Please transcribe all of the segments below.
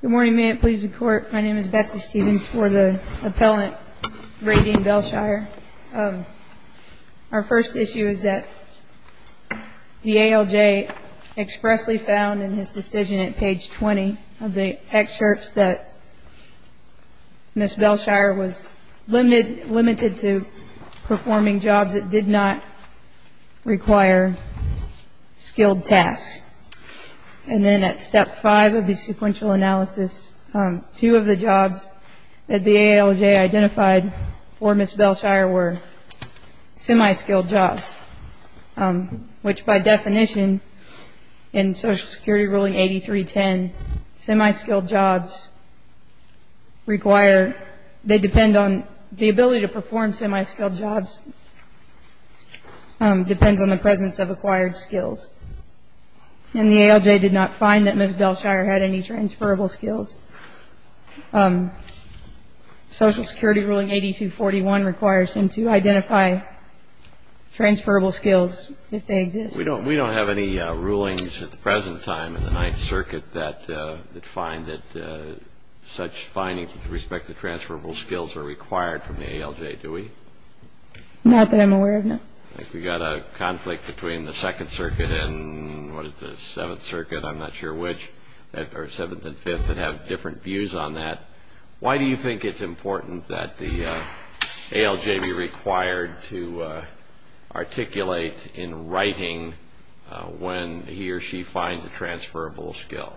Good morning. May it please the Court, my name is Betsy Stevens for the Appellant, Raydeen Bell-Shier. Our first issue is that the ALJ expressly found in his decision at page 20 of the excerpts that Ms. Bell-Shier was limited to performing jobs that did not require skilled tasks. And then at step 5 of the sequential analysis, two of the jobs that the ALJ identified for Ms. Bell-Shier were semi-skilled jobs, which by definition in Social Security ruling 8310, semi-skilled jobs require, they depend on, the ability to perform semi-skilled jobs depends on the presence of acquired skills. And the ALJ did not find that Ms. Bell-Shier had transferable skills. Social Security ruling 8241 requires him to identify transferable skills if they exist. We don't have any rulings at the present time in the Ninth Circuit that find that such findings with respect to transferable skills are required from the ALJ, do we? Not that I'm aware of, no. We've got a conflict between the Second Circuit and, what is this, the Seventh Circuit, I'm not sure which, or Seventh and Fifth, that have different views on that. Why do you think it's important that the ALJ be required to articulate in writing when he or she finds a transferable skill?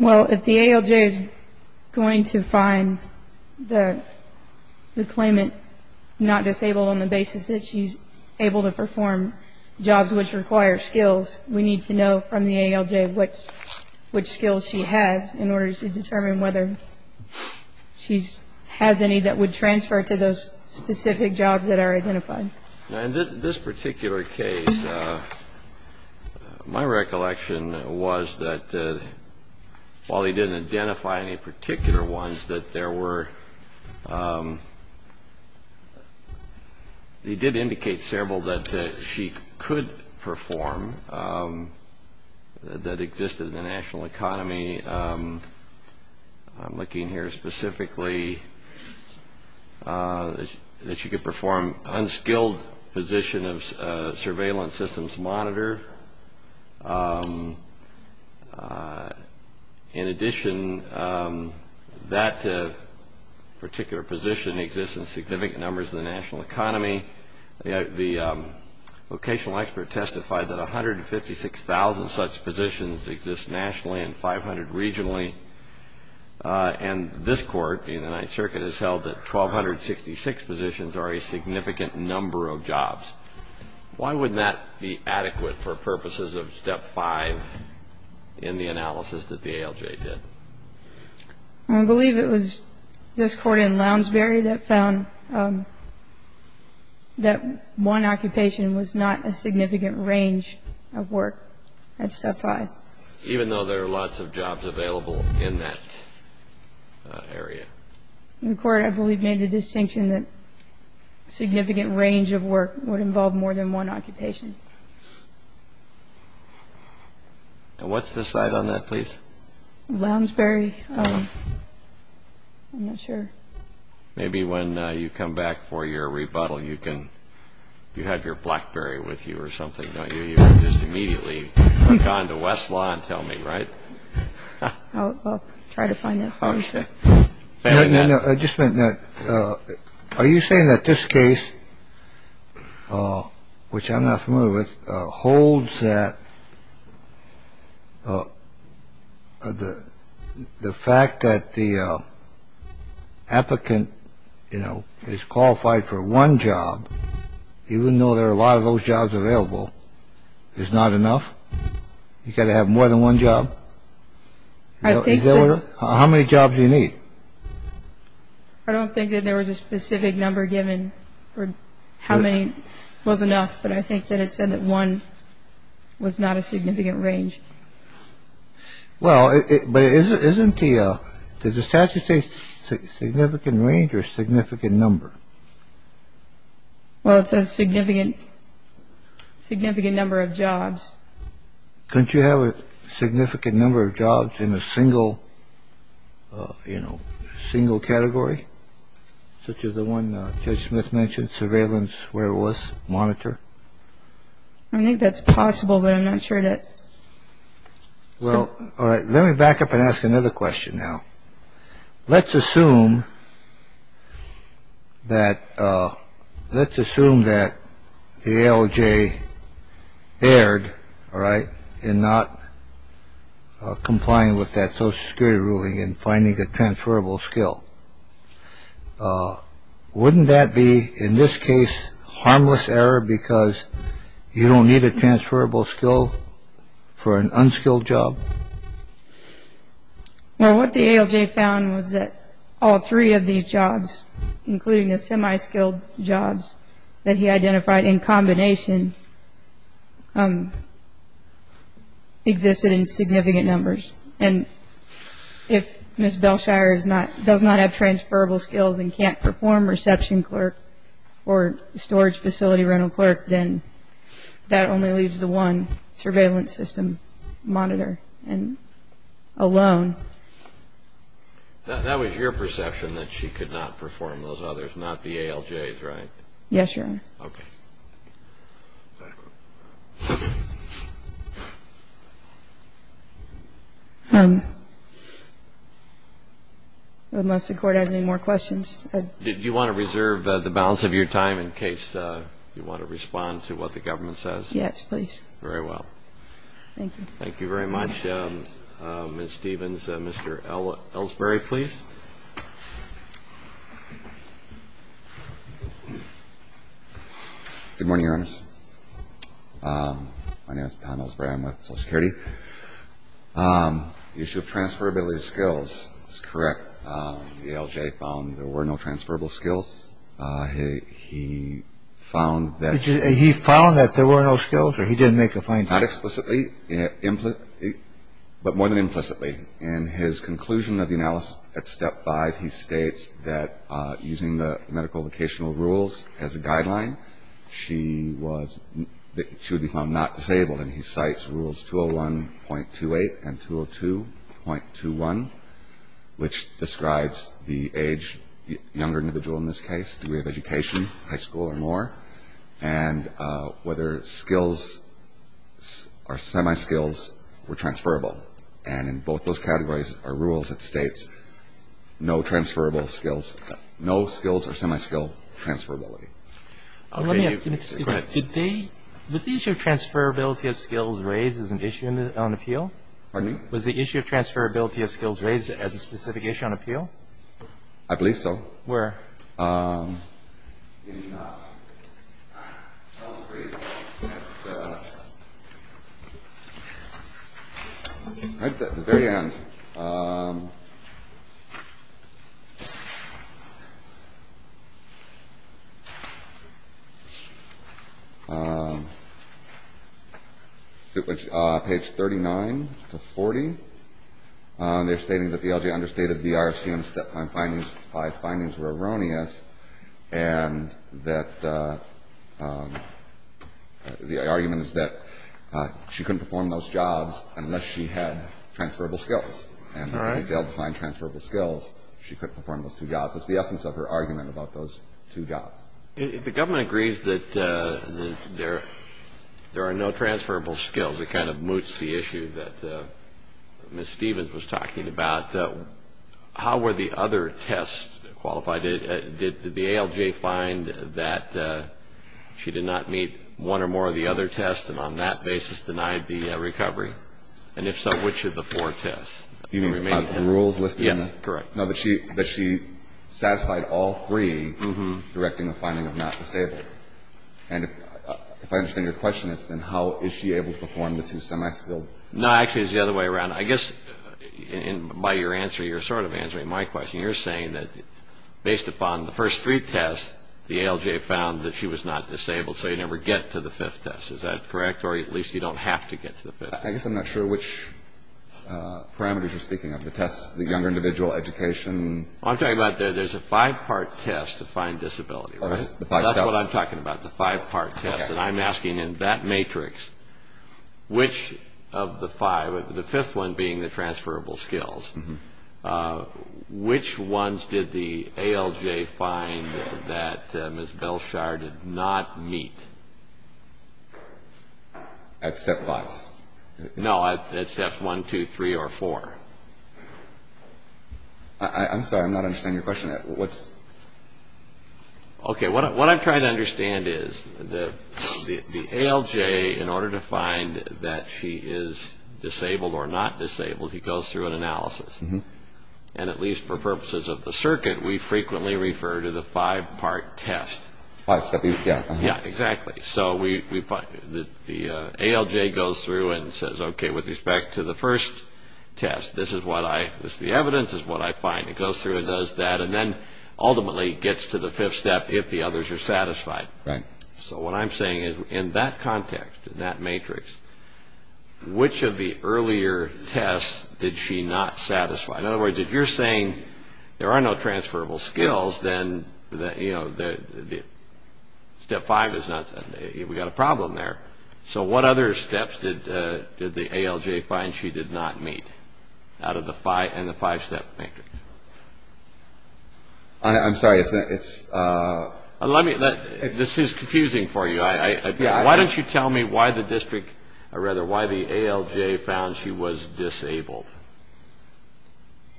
Well, if the ALJ is going to find the claimant not disabled on the basis that she's able to perform jobs which require skills, we need to know from the ALJ which skills she has in order to determine whether she has any that would transfer to those specific jobs that are identified. In this particular case, my recollection was that while he didn't identify any particular ones, that there were, he did indicate several that she could perform that existed in the national economy. I'm looking here specifically that she could perform unskilled position of surveillance systems monitor. In addition, that particular position exists in significant numbers in the national economy. The vocational expert testified that 156,000 such positions exist nationally and 500 regionally, and this Court in the Ninth Circuit has held that 1,266 positions are a significant number of jobs. Why would that be adequate for purposes of Step 5 in the analysis that the ALJ did? I believe it was this Court in Lounsbury that found that one occupation was not a significant range of work at Step 5. Even though there are lots of jobs available in that area? The Court, I believe, made the distinction that significant range of work would involve more than one occupation. What's the site on that, please? Lounsbury. I'm not sure. Maybe when you come back for your rebuttal, you can, you have your BlackBerry with you or something, don't you? You can just immediately hook on to Westlaw and tell me, right? I'll try to find it. Okay. No, no, no. Just a minute. Are you saying that this case, which I'm not familiar with, holds that the fact that the applicant, you know, is qualified for one job, even though there are a lot of those jobs available, is not enough? You got to have more than one job? How many jobs do you need? I don't think that there was a specific number given for how many was enough, but I think that it said that one was not a significant range. Well, but isn't the statute say significant range or significant number? Well, it says significant number of jobs. Couldn't you have a significant number of jobs in a single, you know, single category, such as the one Judge Smith mentioned, surveillance, where it was, monitor? I think that's possible, but I'm not sure that. Well, let me back up and ask another question now. Let's assume that let's assume that the LJ erred. All right. And not complying with that social security ruling and finding a transferable skill. Wouldn't that be, in this case, harmless error because you don't need a transferable skill for an unskilled job? Well, what the ALJ found was that all three of these jobs, including the semi-skilled jobs that he identified in combination, existed in significant numbers. And if Ms. Belshire is not, does not have transferable skills and can't perform reception clerk or storage facility rental clerk, then that only leaves the one surveillance system monitor alone. That was your perception that she could not perform those unless the court has any more questions. Did you want to reserve the balance of your time in case you want to respond to what the government says? Yes, please. Very well. Thank you. Thank you very much, Ms. Stevens. Mr. Ellsbury, please. Good morning, Your Honors. My name is Tom Ellsbury. I'm with Social Security. The issue of transferability skills is correct. The ALJ found there were no transferable skills. He found that there were no skills or he didn't make a finding? Not explicitly, but more than implicitly. In his conclusion of the analysis at step five, he states that using the medical vocational rules as a guideline, she was, she would be found not disabled. And he cites rules 201.28 and 202.21, which describes the age, younger individual in this case, degree of education, high school or more. And whether skills or semi-skills were transferable. And in both those categories are rules that states no transferable skills, no skills or semi-skill transferability. Let me ask you a question. Was the issue of transferability of skills raised as an issue on appeal? Pardon me? Was the issue of transferability of skills raised as a specific issue on appeal? I believe so. Where? Right at the very end. Page 39 to 40. They're stating that the ALJ understated the RFCM step five findings. Five findings were erroneous. The ALJ understated the RFCM step five findings. Five findings were erroneous. And that the argument is that she couldn't perform those jobs unless she had transferable skills. And if they all defined transferable skills, she couldn't perform those two jobs. That's the essence of her argument about those two jobs. If the government agrees that there are no transferable skills, it kind of moots the issue that Ms. Stevens was talking about. How were the other tests qualified? Did the ALJ find that she did not meet one or more of the other tests and on that basis denied the recovery? And if so, which of the four tests? You mean the rules listed? Yes, correct. No, that she satisfied all three directing the finding of not disabled. And if I understand your question, it's then how is she able to perform the two semi-skilled? No, actually, it's the other way around. I guess by your answer, you're sort of answering my question. You're saying that based upon the first three tests, the ALJ found that she was not disabled, so you never get to the fifth test. Is that correct? Or at least you don't have to get to the fifth. I guess I'm not sure which parameters you're speaking of, the tests, the younger individual, education. I'm talking about there's a five-part test to find disability. That's what I'm talking about, the five-part test. And I'm asking in that matrix, which of the five, the fifth one being the transferable skills, which ones did the ALJ find that Ms. Belshire did not meet? At step 5. No, at steps 1, 2, 3, or 4. I'm sorry, I'm not understanding your question. Okay, what I'm trying to understand is the ALJ, in order to find that she is disabled or not disabled, he goes through an analysis. And at least for purposes of the circuit, we frequently refer to the five-part test. Yeah, exactly. So the ALJ goes through and says, okay, with respect to the first test, this is the evidence, this is what I find. It goes through and does that, and then ultimately gets to the fifth step if the others are satisfied. Right. So what I'm saying is in that context, in that matrix, which of the earlier tests did she not satisfy? In other words, if you're saying there are no transferable skills, then step 5 is not, we've got a problem there. So what other steps did the ALJ find she did not meet out of the 5-step matrix? I'm sorry, it's... This is confusing for you. Why don't you tell me why the district, or rather why the ALJ found she was disabled?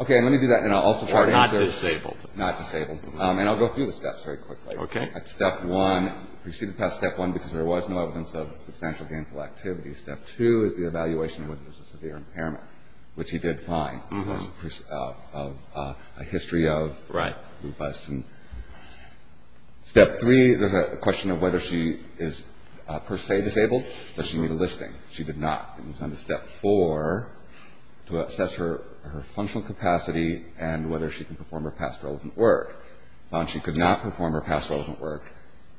Okay, let me do that, and I'll also try to answer... Or not disabled. Not disabled. And I'll go through the steps very quickly. Okay. Step 1, proceeded past step 1 because there was no evidence of substantial gainful activity. Step 2 is the evaluation of whether there's a severe impairment, which he did find. A history of... Right. Step 3, there's a question of whether she is per se disabled. Does she need a listing? She did not. It moves on to step 4, to assess her functional capacity and whether she can perform her past relevant work. Found she could not perform her past relevant work,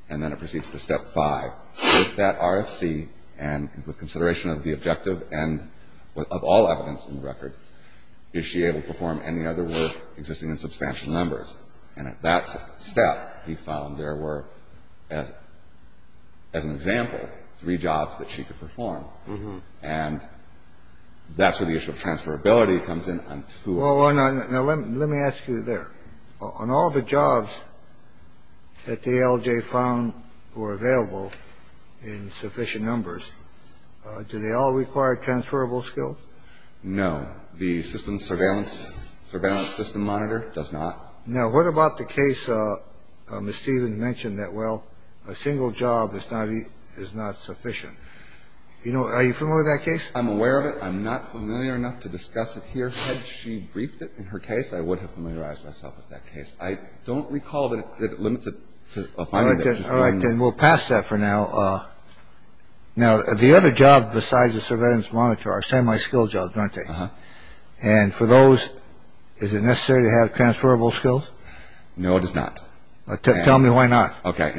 and then it proceeds to step 5. With that RFC and with consideration of the objective and of all evidence in the record, is she able to perform any other work existing in substantial numbers? And at that step, he found there were, as an example, three jobs that she could perform. And that's where the issue of transferability comes in. Now, let me ask you there. On all the jobs that the ALJ found were available in sufficient numbers, do they all require transferable skills? No. The system surveillance, surveillance system monitor does not. Now, what about the case Ms. Stevens mentioned that, well, a single job is not sufficient? I'm aware of it. I'm not familiar enough to discuss it here. Had she briefed it in her case, I would have familiarized myself with that case. I don't recall that it limits it to a finding that... All right. Then we'll pass that for now. Now, the other job besides the surveillance monitor are semi-skilled jobs, aren't they? And for those, is it necessary to have transferable skills? No, it is not. Tell me why not. Okay.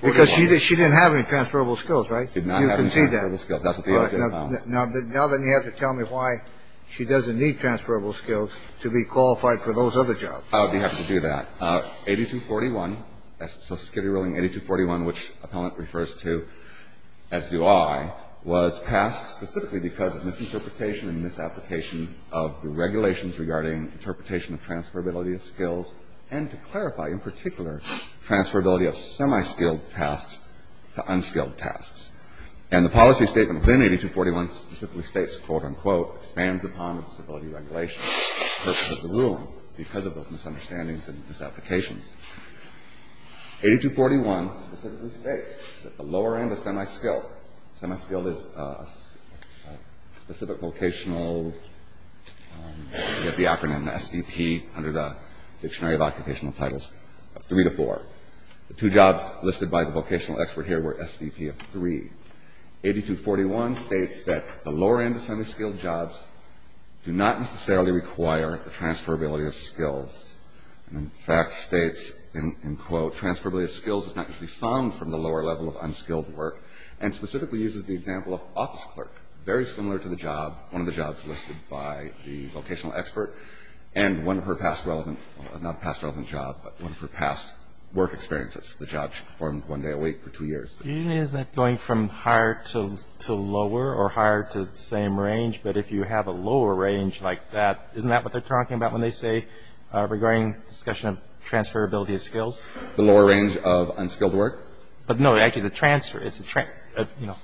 Because she didn't have any transferable skills, right? She did not have any transferable skills. That's what the ALJ found. Now then, you have to tell me why she doesn't need transferable skills to be qualified for those other jobs. I would be happy to do that. 8241, Social Security ruling 8241, which Appellant refers to, as do I, was passed specifically because of misinterpretation and misapplication of the regulations regarding interpretation of transferability of skills and to clarify, in particular, transferability of semi-skilled tasks to unskilled tasks. And the policy statement within 8241 specifically states, quote-unquote, expands upon the disability regulation purpose of the ruling because of those misunderstandings and misapplications. 8241 specifically states that the lower end of semi-skilled... Semi-skilled is a specific vocational... We have the acronym SVP under the Dictionary of Occupational Titles of 3 to 4. The two jobs listed by the vocational expert here were SVP of 3. 8241 states that the lower end of semi-skilled jobs do not necessarily require the transferability of skills and, in fact, states, end quote, transferability of skills is not usually found from the lower level of unskilled work and specifically uses the example of office clerk, very similar to the job, one of the jobs listed by the vocational expert and one of her past relevant... work experiences. The job she performed one day a week for two years. Is that going from higher to lower or higher to the same range? But if you have a lower range like that, isn't that what they're talking about when they say regarding discussion of transferability of skills? The lower range of unskilled work? But, no, actually the transfer,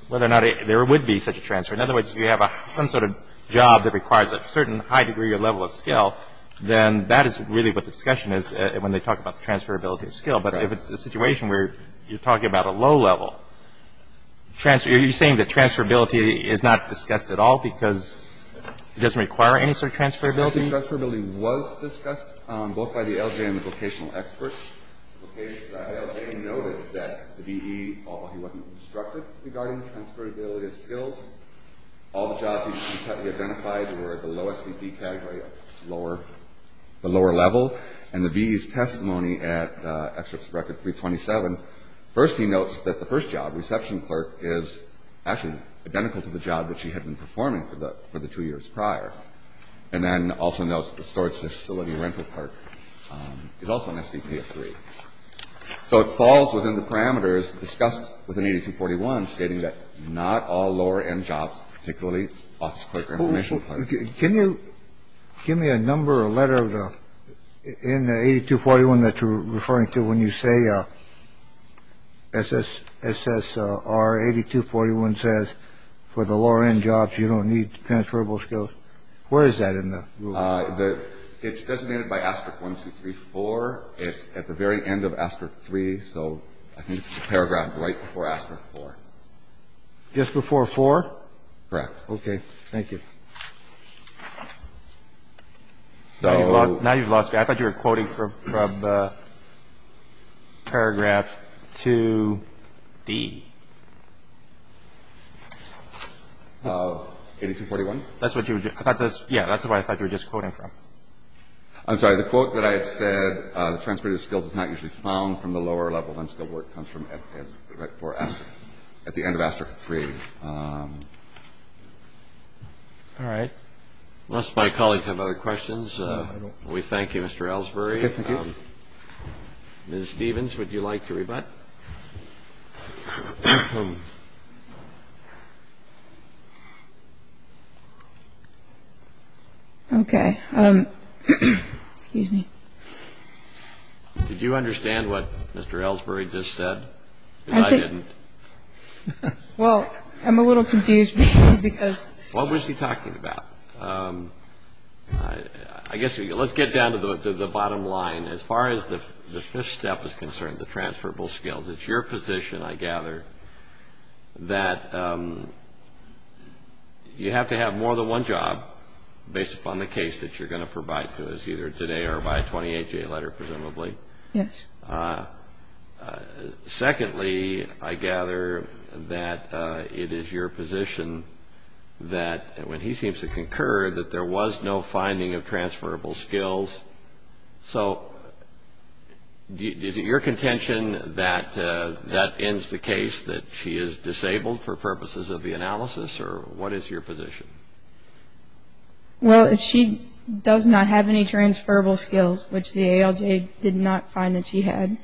whether or not there would be such a transfer. In other words, if you have some sort of job that requires a certain high degree or level of skill, then that is really what the discussion is when they talk about transferability of skills. But if it's a situation where you're talking about a low level, are you saying that transferability is not discussed at all because it doesn't require any sort of transferability? Transferability was discussed both by the LJ and the vocational experts. The LJ noted that the BE, although he wasn't instructed regarding transferability of skills, all the jobs he identified were at the low SVP category, the lower level. And the BE's testimony at Excerpt of Record 327, first he notes that the first job, reception clerk, is actually identical to the job that she had been performing for the two years prior. And then also notes that the storage facility rental clerk is also an SVP of three. So it falls within the parameters discussed within 8241, stating that not all lower end jobs, particularly office clerk. Can you give me a number, a letter of the in 8241 that you're referring to when you say SS SSR 8241 says for the lower end jobs, you don't need transferable skills. Where is that in the law? It's designated by Asterix one, two, three, four. It's at the very end of Asterix three. So I think it's the paragraph right before Asterix four. Just before four. Correct. OK. Thank you. So now you've lost. I thought you were quoting from the paragraph to the. 8241. That's what you thought. Yeah. That's why I thought you were just quoting from. I'm sorry. The quote that I had said transferred skills is not usually found from the lower level. I'm still where it comes from. At the end of Asterix three. All right. My colleagues have other questions. We thank you, Mr. Ellsbury. Ms. Stevens, would you like to rebut? OK. Excuse me. Did you understand what Mr. Ellsbury just said? I didn't. Well, I'm a little confused because. What was he talking about? I guess let's get down to the bottom line. As far as the fifth step is concerned, the transferable skills, it's your position, I gather, that you have to have more than one job based upon the case that you're going to provide to us, either today or by a 28-J letter, presumably. Yes. Secondly, I gather that it is your position that when he seems to concur that there was no finding of transferable skills. So is it your contention that that ends the case, that she is disabled for purposes of the analysis? Or what is your position? Well, if she does not have any transferable skills, which the ALJ did not find that she had,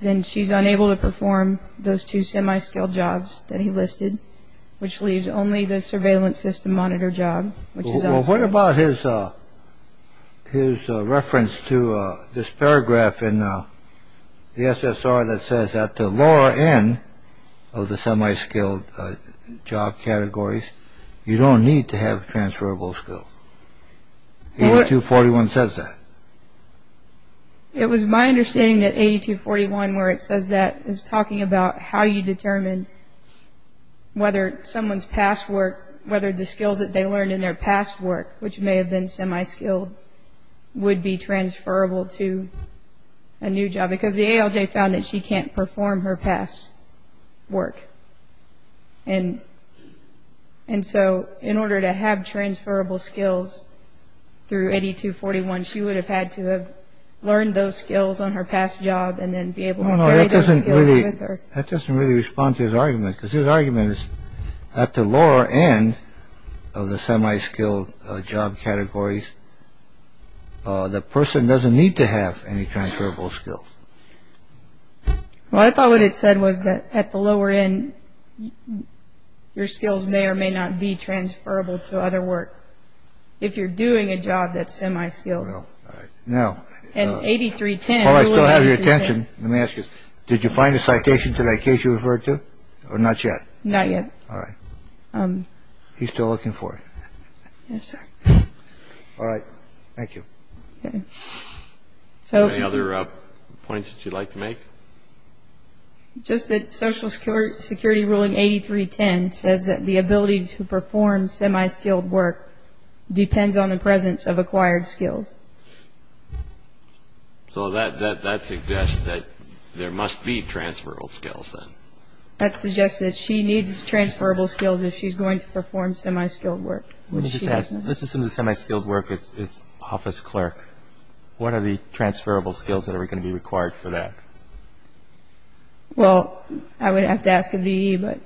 then she's unable to perform those two semi-skilled jobs that he listed, which leaves only the surveillance system monitor job. What about his his reference to this paragraph in the SSR that says that the lower end of the semi-skilled job categories, you don't need to have transferable skills? 8241 says that. It was my understanding that 8241, where it says that, is talking about how you determine whether someone's past work, whether the skills that they learned in their past work, which may have been semi-skilled, would be transferable to a new job because the ALJ found that she can't perform her past work. And and so in order to have transferable skills through 8241, she would have had to have learned those skills on her past job and then be able to. That doesn't really respond to his argument because his argument is at the lower end of the semi-skilled job categories. The person doesn't need to have any transferable skills. Well, I thought what it said was that at the lower end, your skills may or may not be transferable to other work if you're doing a job that's semi-skilled. Now, 8310. While I still have your attention, let me ask you, did you find a citation to that case you referred to or not yet? Not yet. All right. He's still looking for it. All right. Thank you. So any other points that you'd like to make? Just that Social Security Ruling 8310 says that the ability to perform semi-skilled work depends on the presence of acquired skills. So that suggests that there must be transferable skills then. That suggests that she needs transferable skills if she's going to perform semi-skilled work. Let me just ask, let's assume the semi-skilled work is office clerk. What are the transferable skills that are going to be required for that? Well, I would have to ask the V.E., but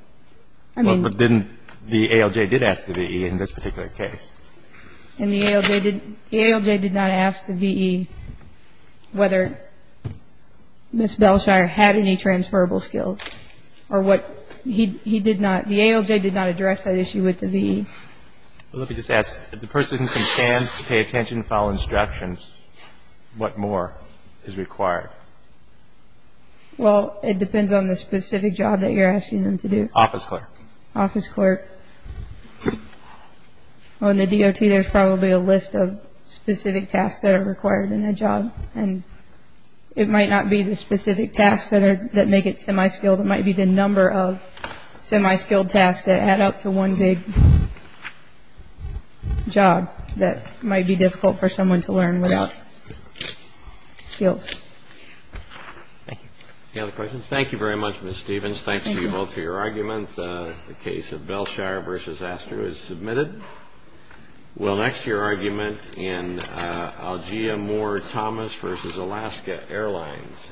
I mean. Well, but didn't the ALJ did ask the V.E. in this particular case. And the ALJ did not ask the V.E. whether Ms. Bellshire had any transferable skills or what. He did not. The ALJ did not address that issue with the V.E. Let me just ask, if the person can stand to pay attention and follow instructions, what more is required? Well, it depends on the specific job that you're asking them to do. Office clerk. Office clerk. Well, in the DOT there's probably a list of specific tasks that are required in that job. And it might not be the specific tasks that make it semi-skilled. It might be the number of semi-skilled tasks that add up to one big job that might be difficult for someone to learn without skills. Any other questions? Thank you very much, Ms. Stevens. Thanks to you both for your arguments. The case of Bellshire v. Astor is submitted. Well, next, your argument in Algier-Moore-Thomas v. Alaska Airlines. Thank you.